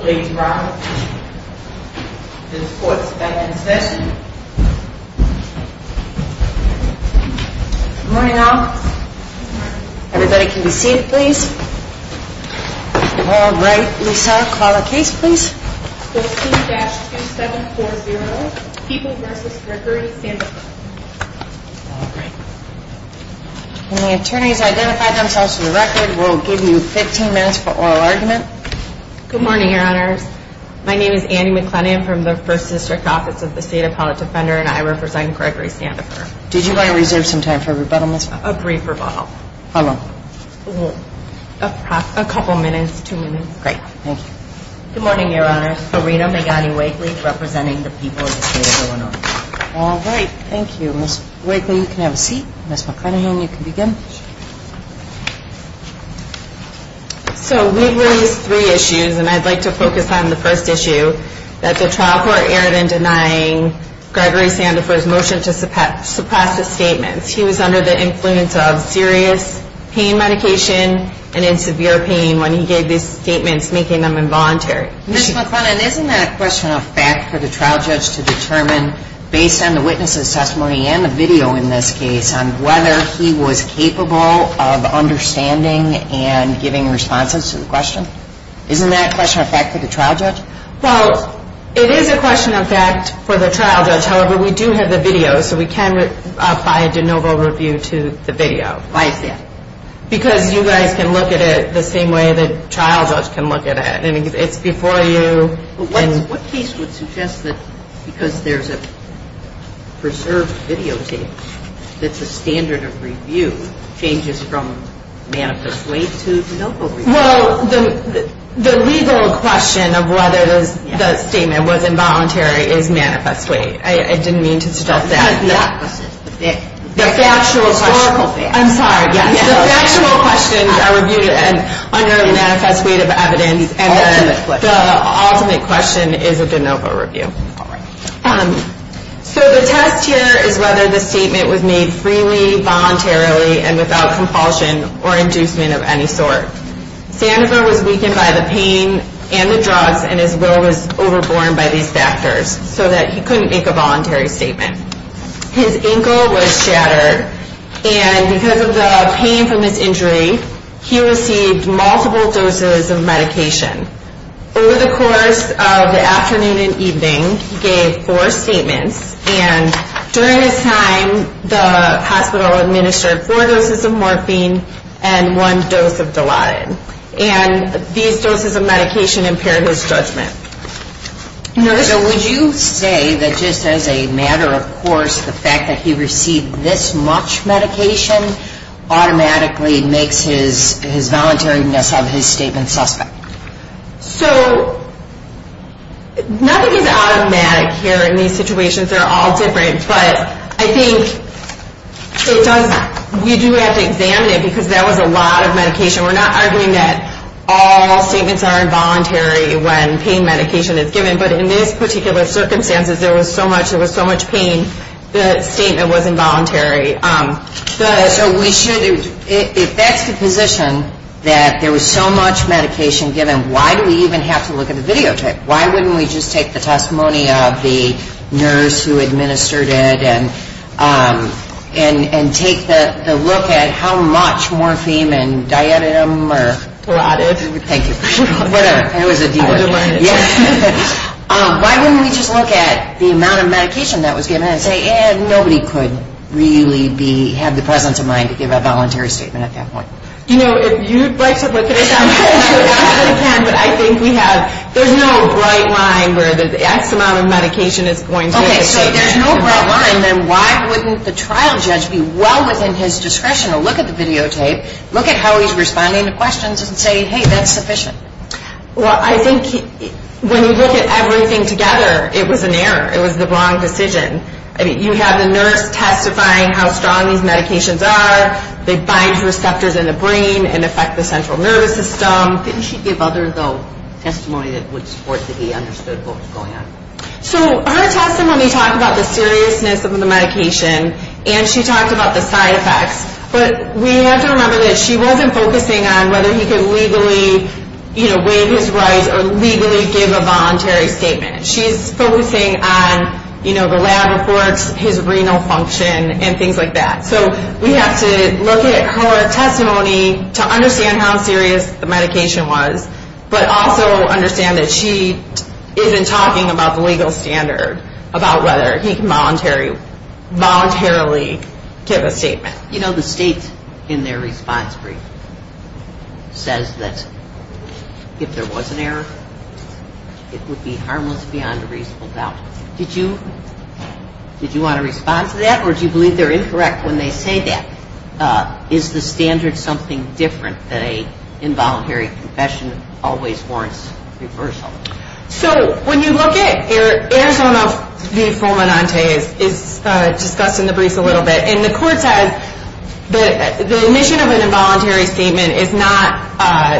Ladies and gentlemen, this court is now in session. Good morning, all. Everybody can be seated, please. All right, Lisa, call the case, please. 14-2740, People v. Rickery-Sandifer. All right. When the attorneys identify themselves to the record, we'll give you 15 minutes for oral argument. Good morning, Your Honors. My name is Annie McLennan from the First District Office of the State Appellate Defender, and I represent Gregory-Sandifer. Did you guys reserve some time for rebuttal, Miss? A brief rebuttal. How long? Great, thank you. Good morning, Your Honors. My name is Farina Megani-Wakely, representing the People of the State of Illinois. All right, thank you. Miss Wakely, you can have a seat. Miss McLennan, you can begin. So we've raised three issues, and I'd like to focus on the first issue, that the trial court erred in denying Gregory-Sandifer's motion to suppress the statements. He was under the influence of serious pain medication and in severe pain when he gave these statements, making them involuntary. Miss McLennan, isn't that a question of fact for the trial judge to determine, based on the witness' testimony and the video in this case, on whether he was capable of understanding and giving responses to the question? Isn't that a question of fact for the trial judge? Well, it is a question of fact for the trial judge. However, we do have the video, so we can apply a de novo review to the video. I see. Because you guys can look at it the same way the trial judge can look at it. It's before you. What case would suggest that, because there's a preserved videotape, that the standard of review changes from manifest weight to de novo review? Well, the legal question of whether the statement was involuntary is manifest weight. I didn't mean to suggest that. The factual question. Historical fact. I'm sorry. The factual questions are reviewed under manifest weight of evidence, and the ultimate question is a de novo review. So the test here is whether the statement was made freely, voluntarily, and without compulsion or inducement of any sort. Sandifer was weakened by the pain and the drugs, and his will was overborne by these factors, so that he couldn't make a voluntary statement. His ankle was shattered, and because of the pain from his injury, he received multiple doses of medication. Over the course of the afternoon and evening, he gave four statements, and during his time, the hospital administered four doses of morphine and one dose of Dilaudid, and these doses of medication impaired his judgment. So would you say that just as a matter of course, the fact that he received this much medication automatically makes his voluntariness of his statement suspect? So nothing is automatic here in these situations. They're all different. But I think it does – you do have to examine it, because that was a lot of medication. We're not arguing that all statements are involuntary when pain medication is given, but in this particular circumstance, there was so much pain, the statement was involuntary. So we should – if that's the position, that there was so much medication given, why do we even have to look at the videotape? Why wouldn't we just take the testimony of the nurse who administered it and take the look at how much morphine and Dilaudid or – Dilaudid. Thank you. Whatever. It was a D word. Dilaudid. Yes. Why wouldn't we just look at the amount of medication that was given and say, eh, nobody could really be – have the presence of mind to give a voluntary statement at that point? You know, if you'd like to look at it that way, I really can, where the X amount of medication is going to make a statement. Okay. So if there's no broad line, then why wouldn't the trial judge be well within his discretion to look at the videotape, look at how he's responding to questions and say, hey, that's sufficient? Well, I think when you look at everything together, it was an error. It was the wrong decision. I mean, you have the nurse testifying how strong these medications are. They bind to receptors in the brain and affect the central nervous system. Didn't she give other testimony that would support that he understood what was going on? So her testimony talked about the seriousness of the medication, and she talked about the side effects, but we have to remember that she wasn't focusing on whether he could legally, you know, waive his rights or legally give a voluntary statement. She's focusing on, you know, the lab reports, his renal function, and things like that. So we have to look at her testimony to understand how serious the medication was, but also understand that she isn't talking about the legal standard, about whether he can voluntarily give a statement. You know, the state in their response brief says that if there was an error, it would be harmless beyond a reasonable doubt. Did you want to respond to that, or do you believe they're incorrect when they say that? Is the standard something different than an involuntary confession always warrants reversal? So when you look at Arizona v. Fulminante, it's discussed in the brief a little bit, and the court says the omission of an involuntary statement is not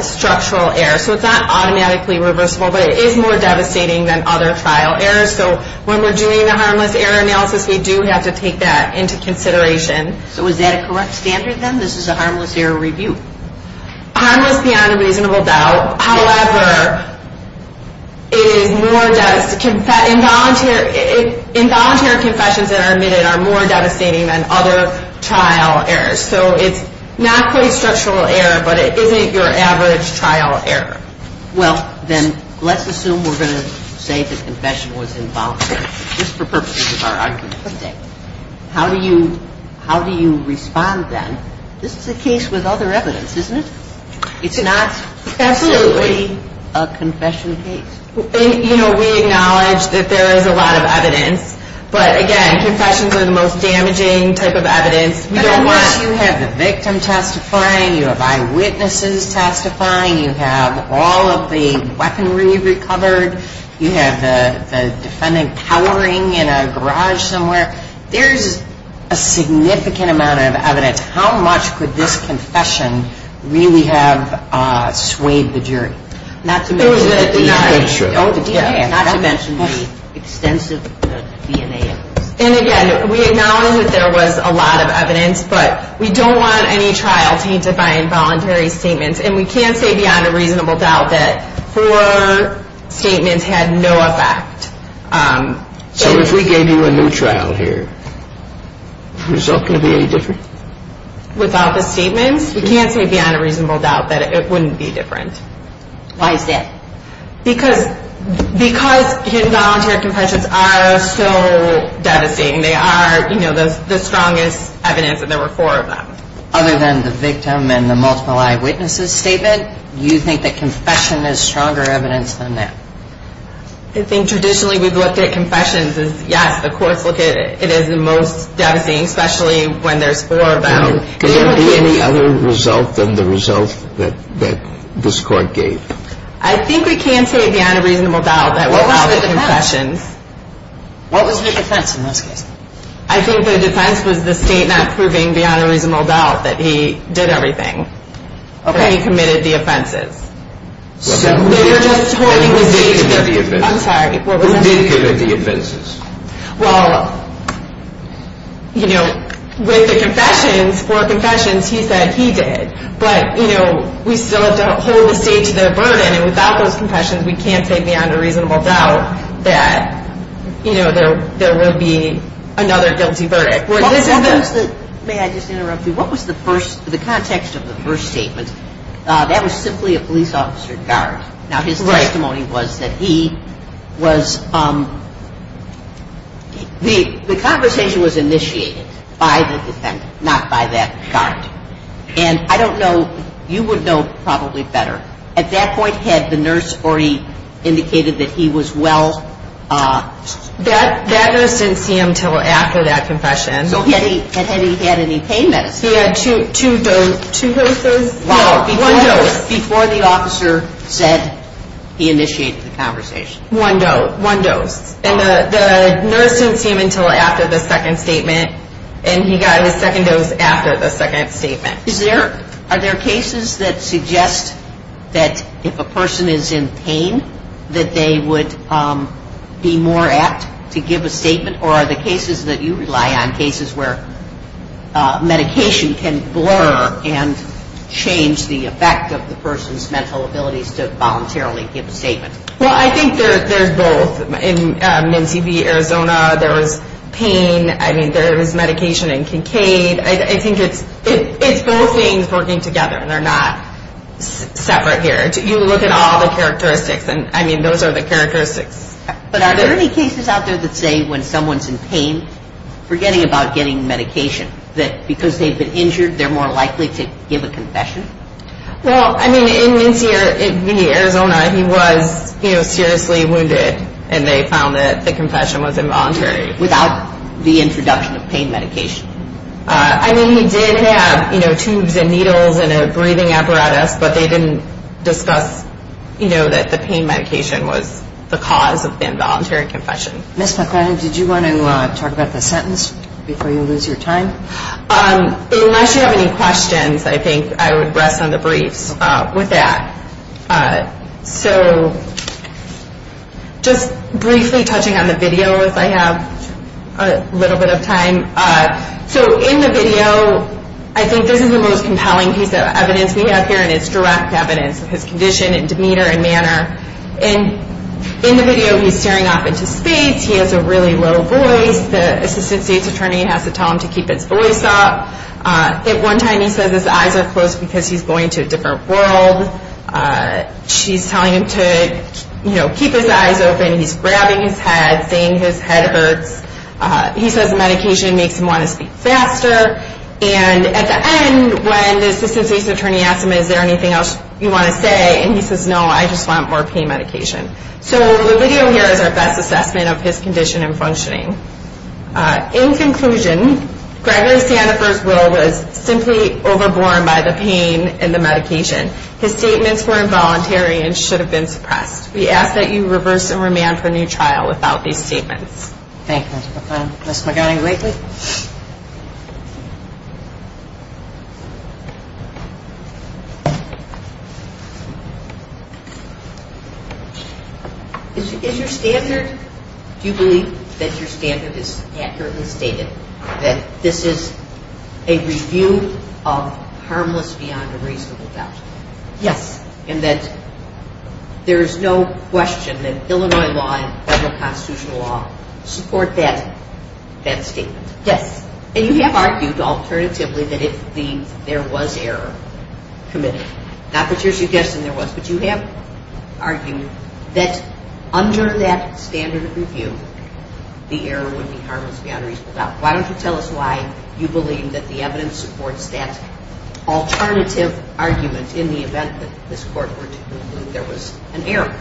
structural error. So it's not automatically reversible, but it is more devastating than other trial errors. So when we're doing the harmless error analysis, we do have to take that into consideration. So is that a correct standard, then? This is a harmless error review? Harmless beyond a reasonable doubt. However, involuntary confessions that are admitted are more devastating than other trial errors. So it's not quite structural error, but it isn't your average trial error. Well, then let's assume we're going to say the confession was involuntary, just for purposes of our argument. How do you respond, then? This is a case with other evidence, isn't it? It's not absolutely a confession case. You know, we acknowledge that there is a lot of evidence, but again, confessions are the most damaging type of evidence. But unless you have the victim testifying, you have eyewitnesses testifying, you have all of the weaponry recovered, you have the defendant cowering in a garage somewhere, there's a significant amount of evidence. How much could this confession really have swayed the jury? Not to mention the extensive DNA analysis. And again, we acknowledge that there was a lot of evidence, but we don't want any trial tainted by involuntary statements. And we can't say beyond a reasonable doubt that four statements had no effect. So if we gave you a new trial here, is the result going to be any different? Without the statements, we can't say beyond a reasonable doubt that it wouldn't be different. Why is that? Because involuntary confessions are so devastating. They are, you know, the strongest evidence that there were four of them. Other than the victim and the multiple eyewitnesses statement, you think that confession is stronger evidence than that? I think traditionally we've looked at confessions as, yes, the courts look at it as the most devastating, especially when there's four of them. Could there be any other result than the result that this Court gave? I think we can say beyond a reasonable doubt that without the confessions. What was the defense? What was the defense in this case? I think the defense was the State not proving beyond a reasonable doubt that he did everything. Okay. That he committed the offenses. And who did commit the offenses? I'm sorry, what was that? Who did commit the offenses? Well, you know, with the confessions, four confessions, he said he did. But, you know, we still have to hold the State to their burden. And without those confessions, we can't say beyond a reasonable doubt that, you know, there will be another guilty verdict. May I just interrupt you? What was the context of the first statement? That was simply a police officer guard. Now, his testimony was that he was the conversation was initiated by the defendant, not by that guard. And I don't know, you would know probably better. At that point, had the nurse already indicated that he was well? That nurse didn't see him until after that confession. So had he had any pain medicine? He had two doses. Two doses? No, one dose. Before the officer said he initiated the conversation. One dose. One dose. And the nurse didn't see him until after the second statement. And he got his second dose after the second statement. Are there cases that suggest that if a person is in pain, that they would be more apt to give a statement? Or are the cases that you rely on cases where medication can blur and change the effect of the person's mental abilities to voluntarily give a statement? Well, I think there's both. In Minnesee v. Arizona, there was pain. I mean, there was medication in Kincaid. I think it's both things working together, and they're not separate here. You look at all the characteristics, and, I mean, those are the characteristics. But are there any cases out there that say when someone's in pain, forgetting about getting medication, that because they've been injured, they're more likely to give a confession? Well, I mean, in Minnesee v. Arizona, he was, you know, seriously wounded, and they found that the confession was involuntary. Without the introduction of pain medication? I mean, he did have, you know, tubes and needles and a breathing apparatus, but they didn't discuss, you know, that the pain medication was the cause of involuntary confession. Ms. McClanahan, did you want to talk about the sentence before you lose your time? Unless you have any questions, I think I would rest on the briefs with that. So just briefly touching on the video as I have a little bit of time. So in the video, I think this is the most compelling piece of evidence we have here, and it's direct evidence of his condition and demeanor and manner. In the video, he's staring off into space. He has a really low voice. The assistant state's attorney has to tell him to keep his voice up. At one time, he says his eyes are closed because he's going to a different world. She's telling him to, you know, keep his eyes open. He's grabbing his head, saying his head hurts. He says the medication makes him want to speak faster. And at the end, when the assistant state's attorney asks him, is there anything else you want to say, and he says, no, I just want more pain medication. In conclusion, Gregory Sanford's will was simply overborne by the pain and the medication. His statements were involuntary and should have been suppressed. We ask that you reverse and remand for a new trial without these statements. Thank you, Ms. McClellan. Ms. McGowan-Glakely? Is your standard, do you believe that your standard is accurately stated, that this is a review of harmless beyond a reasonable doubt? Yes. And that there is no question that Illinois law and federal constitutional law support that statement? Yes. And you have argued alternatively that if there was error committed, not that you're suggesting there was, but you have argued that under that standard of review, the error would be harmless beyond reasonable doubt. Why don't you tell us why you believe that the evidence supports that alternative argument in the event that this Court were to conclude that there was an error?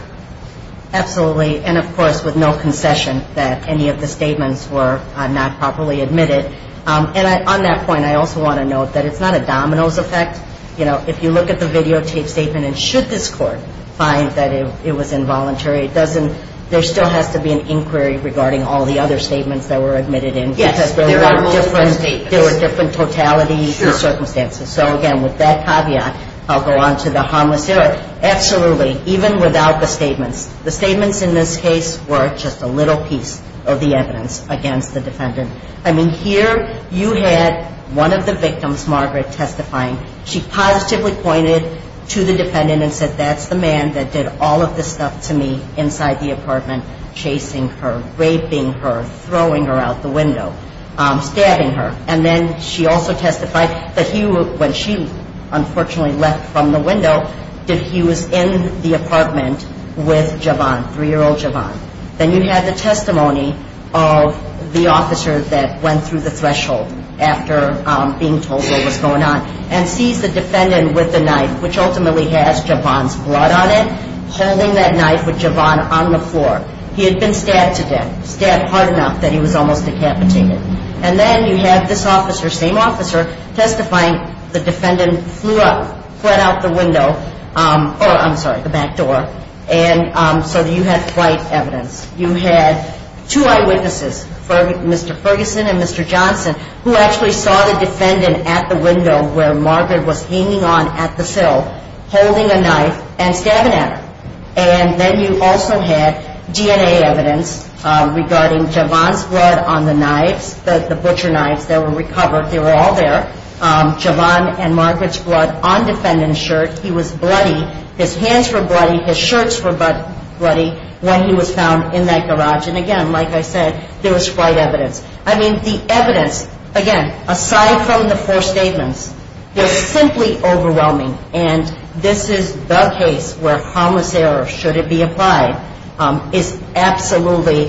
Absolutely. And, of course, with no concession that any of the statements were not properly admitted. And on that point, I also want to note that it's not a domino's effect. You know, if you look at the videotape statement and should this Court find that it was involuntary, there still has to be an inquiry regarding all the other statements that were admitted in. Yes. There were different totalities and circumstances. So, again, with that caveat, I'll go on to the harmless error. Absolutely. Even without the statements. The statements in this case were just a little piece of the evidence against the defendant. I mean, here you had one of the victims, Margaret, testifying. She positively pointed to the defendant and said, that's the man that did all of this stuff to me inside the apartment, chasing her, raping her, throwing her out the window, stabbing her. And then she also testified that he, when she unfortunately left from the window, that he was in the apartment with Javon, three-year-old Javon. Then you had the testimony of the officer that went through the threshold after being told what was going on and sees the defendant with the knife, which ultimately has Javon's blood on it, holding that knife with Javon on the floor. He had been stabbed to death, stabbed hard enough that he was almost decapitated. And then you had this officer, same officer, testifying. The defendant flew up, fled out the window, or I'm sorry, the back door. And so you had quite evidence. You had two eyewitnesses, Mr. Ferguson and Mr. Johnson, who actually saw the defendant at the window where Margaret was hanging on at the sill, holding a knife and stabbing at her. And then you also had DNA evidence regarding Javon's blood on the knives, the butcher knives that were recovered. They were all there, Javon and Margaret's blood on defendant's shirt. He was bloody. His hands were bloody. His shirts were bloody when he was found in that garage. And again, like I said, there was quite evidence. I mean, the evidence, again, aside from the four statements, is simply overwhelming. And this is the case where harmless error, should it be applied, is absolutely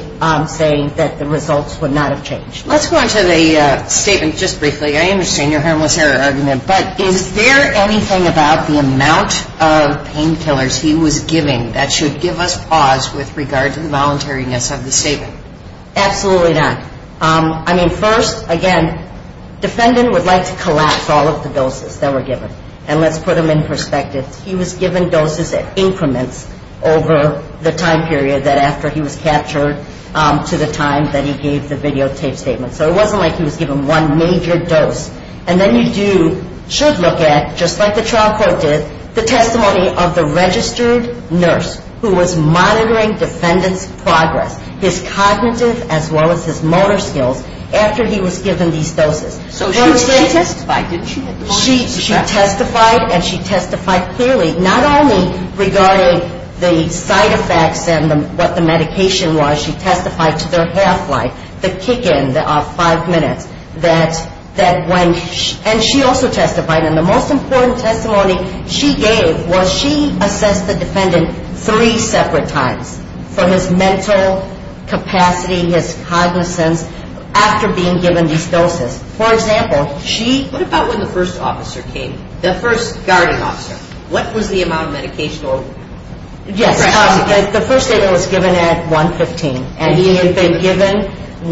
saying that the results would not have changed. Let's go on to the statement just briefly. I understand your harmless error argument. But is there anything about the amount of painkillers he was giving that should give us pause with regard to the voluntariness of the statement? Absolutely not. I mean, first, again, defendant would like to collapse all of the doses that were given. And let's put them in perspective. He was given doses at increments over the time period that after he was captured to the time that he gave the videotape statement. So it wasn't like he was given one major dose. And then you do, should look at, just like the trial court did, the testimony of the registered nurse who was monitoring defendant's progress, his cognitive as well as his motor skills, after he was given these doses. So she testified, didn't she? She testified, and she testified clearly, not only regarding the side effects and what the medication was, she testified to their half-life, the kick-in, the five minutes. And she also testified, and the most important testimony she gave was she assessed the defendant three separate times for his mental capacity, his cognizance, after being given these doses. For example, she... What about when the first officer came? The first guarding officer. What was the amount of medication? Yes. The first statement was given at 1.15, and he had been given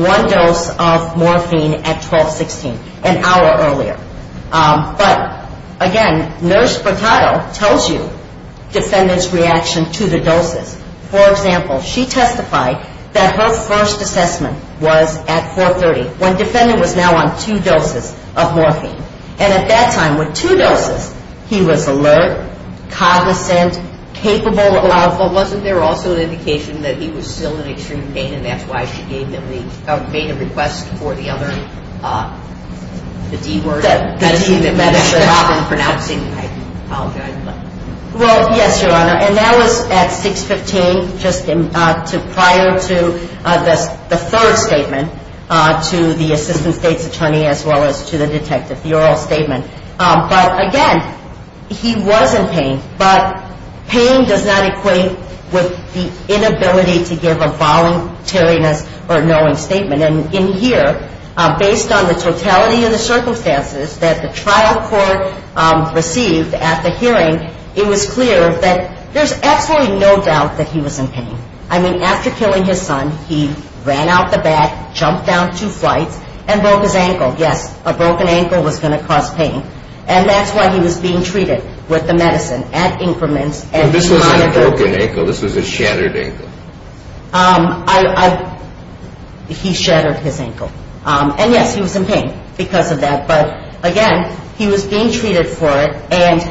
one dose of morphine at 12.16, an hour earlier. But, again, nurse Burtado tells you defendant's reaction to the doses. For example, she testified that her first assessment was at 4.30. When defendant was now on two doses of morphine. And at that time, with two doses, he was alert, cognizant, capable of... But wasn't there also an indication that he was still in extreme pain, and that's why she made a request for the other... The D word? The D that medicine often pronounces. I apologize, but... Well, yes, Your Honor, and that was at 6.15, prior to the third statement to the assistant state's attorney, as well as to the detective, the oral statement. But, again, he was in pain, but pain does not equate with the inability to give a voluntariness or knowing statement. And in here, based on the totality of the circumstances that the trial court received at the hearing, it was clear that there's absolutely no doubt that he was in pain. I mean, after killing his son, he ran out the back, jumped down two flights, and broke his ankle. Yes, a broken ankle was going to cause pain. And that's why he was being treated with the medicine at increments. But this wasn't a broken ankle. This was a shattered ankle. He shattered his ankle. And, yes, he was in pain because of that. But, again, he was being treated for it. And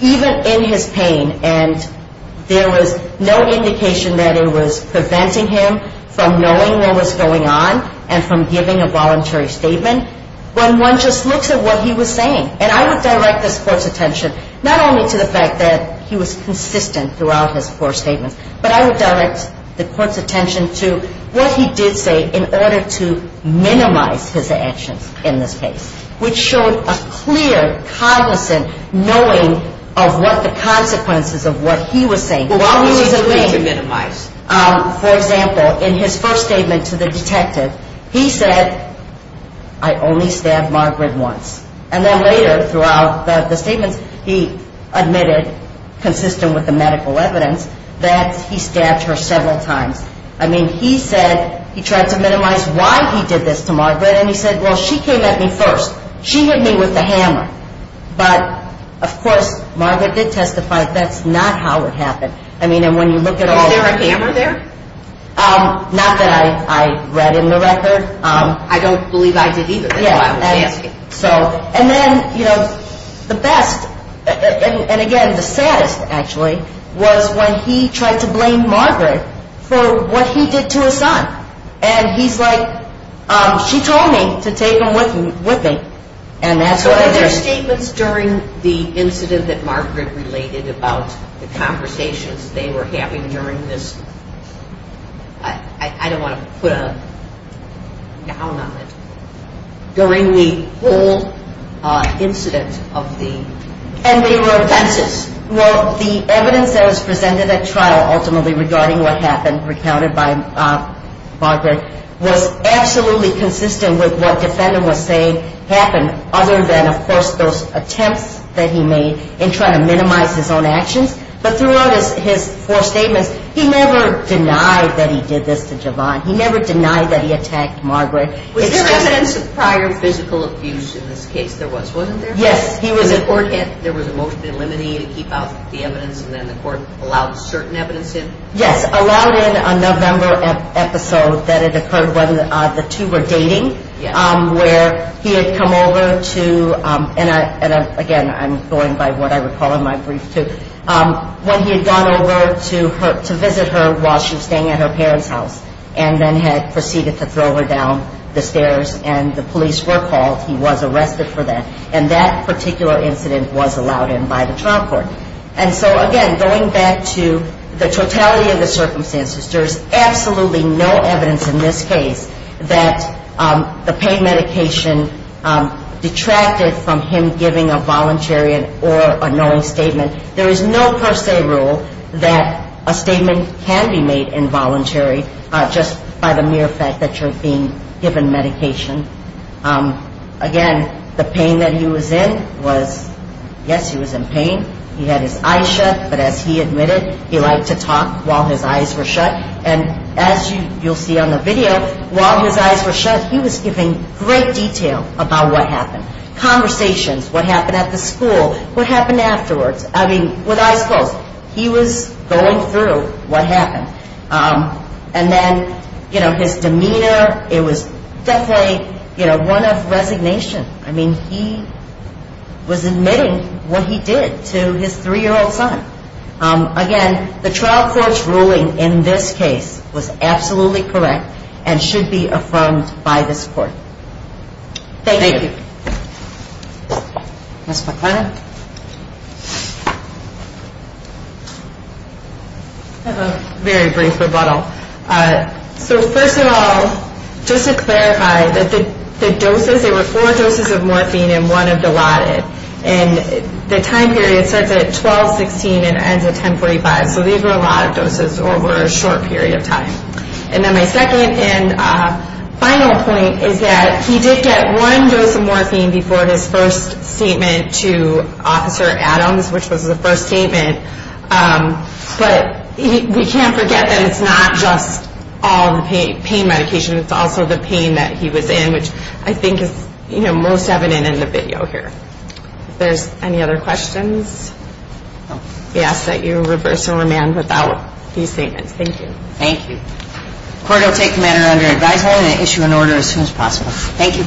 even in his pain, and there was no indication that it was preventing him from knowing what was going on and from giving a voluntary statement, when one just looks at what he was saying. And I would direct this Court's attention not only to the fact that he was consistent throughout his four statements, but I would direct the Court's attention to what he did say in order to minimize his actions in this case, which showed a clear, cognizant knowing of what the consequences of what he was saying. But what was he doing to minimize? For example, in his first statement to the detective, he said, I only stabbed Margaret once. And then later throughout the statements, he admitted, consistent with the medical evidence, that he stabbed her several times. I mean, he said he tried to minimize why he did this to Margaret. And he said, well, she came at me first. She hit me with the hammer. But, of course, Margaret did testify. That's not how it happened. I mean, and when you look at all the... Was there a hammer there? Not that I read in the record. I don't believe I did either. Yeah. So, and then, you know, the best, and, again, the saddest, actually, was when he tried to blame Margaret for what he did to his son. And he's like, she told me to take him with me. And that's what I did. So were there statements during the incident that Margaret related about the conversations they were having during this... I don't want to put a noun on it. During the whole incident of the... And they were offenses. Well, the evidence that was presented at trial, ultimately, regarding what happened, recounted by Margaret, was absolutely consistent with what defendant was saying happened, other than, of course, those attempts that he made in trying to minimize his own actions. But throughout his four statements, he never denied that he did this to Javon. He never denied that he attacked Margaret. Was there evidence of prior physical abuse in this case? There was, wasn't there? Yes. There was a motion to eliminate and keep out the evidence, and then the court allowed certain evidence in? Yes, allowed in a November episode that had occurred when the two were dating, where he had come over to... And, again, I'm going by what I recall in my brief, too. When he had gone over to visit her while she was staying at her parents' house and then had proceeded to throw her down the stairs and the police were called, he was arrested for that. And that particular incident was allowed in by the trial court. And so, again, going back to the totality of the circumstances, there is absolutely no evidence in this case that the pain medication detracted from him giving a voluntary or a knowing statement. There is no per se rule that a statement can be made involuntary just by the mere fact that you're being given medication. Again, the pain that he was in was, yes, he was in pain. He had his eyes shut, but as he admitted, he liked to talk while his eyes were shut. And as you'll see on the video, while his eyes were shut, he was giving great detail about what happened. Conversations, what happened at the school, what happened afterwards. I mean, with eyes closed. He was going through what happened. And then, you know, his demeanor, it was definitely, you know, one of resignation. I mean, he was admitting what he did to his three-year-old son. Again, the trial court's ruling in this case was absolutely correct and should be affirmed by this court. Thank you. Ms. McLennan. I have a very brief rebuttal. So first of all, just to clarify, the doses, there were four doses of morphine and one of Dilaudid. And the time period starts at 12-16 and ends at 10-45. So these were a lot of doses over a short period of time. And then my second and final point is that he did get one dose of morphine before his first statement to Officer Adams, which was the first statement. But we can't forget that it's not just all the pain medication. It's also the pain that he was in, which I think is, you know, most evident in the video here. If there's any other questions, I ask that you reverse and remand without these statements. Thank you. Thank you. Court will take the matter under advisement and issue an order as soon as possible. Thank you.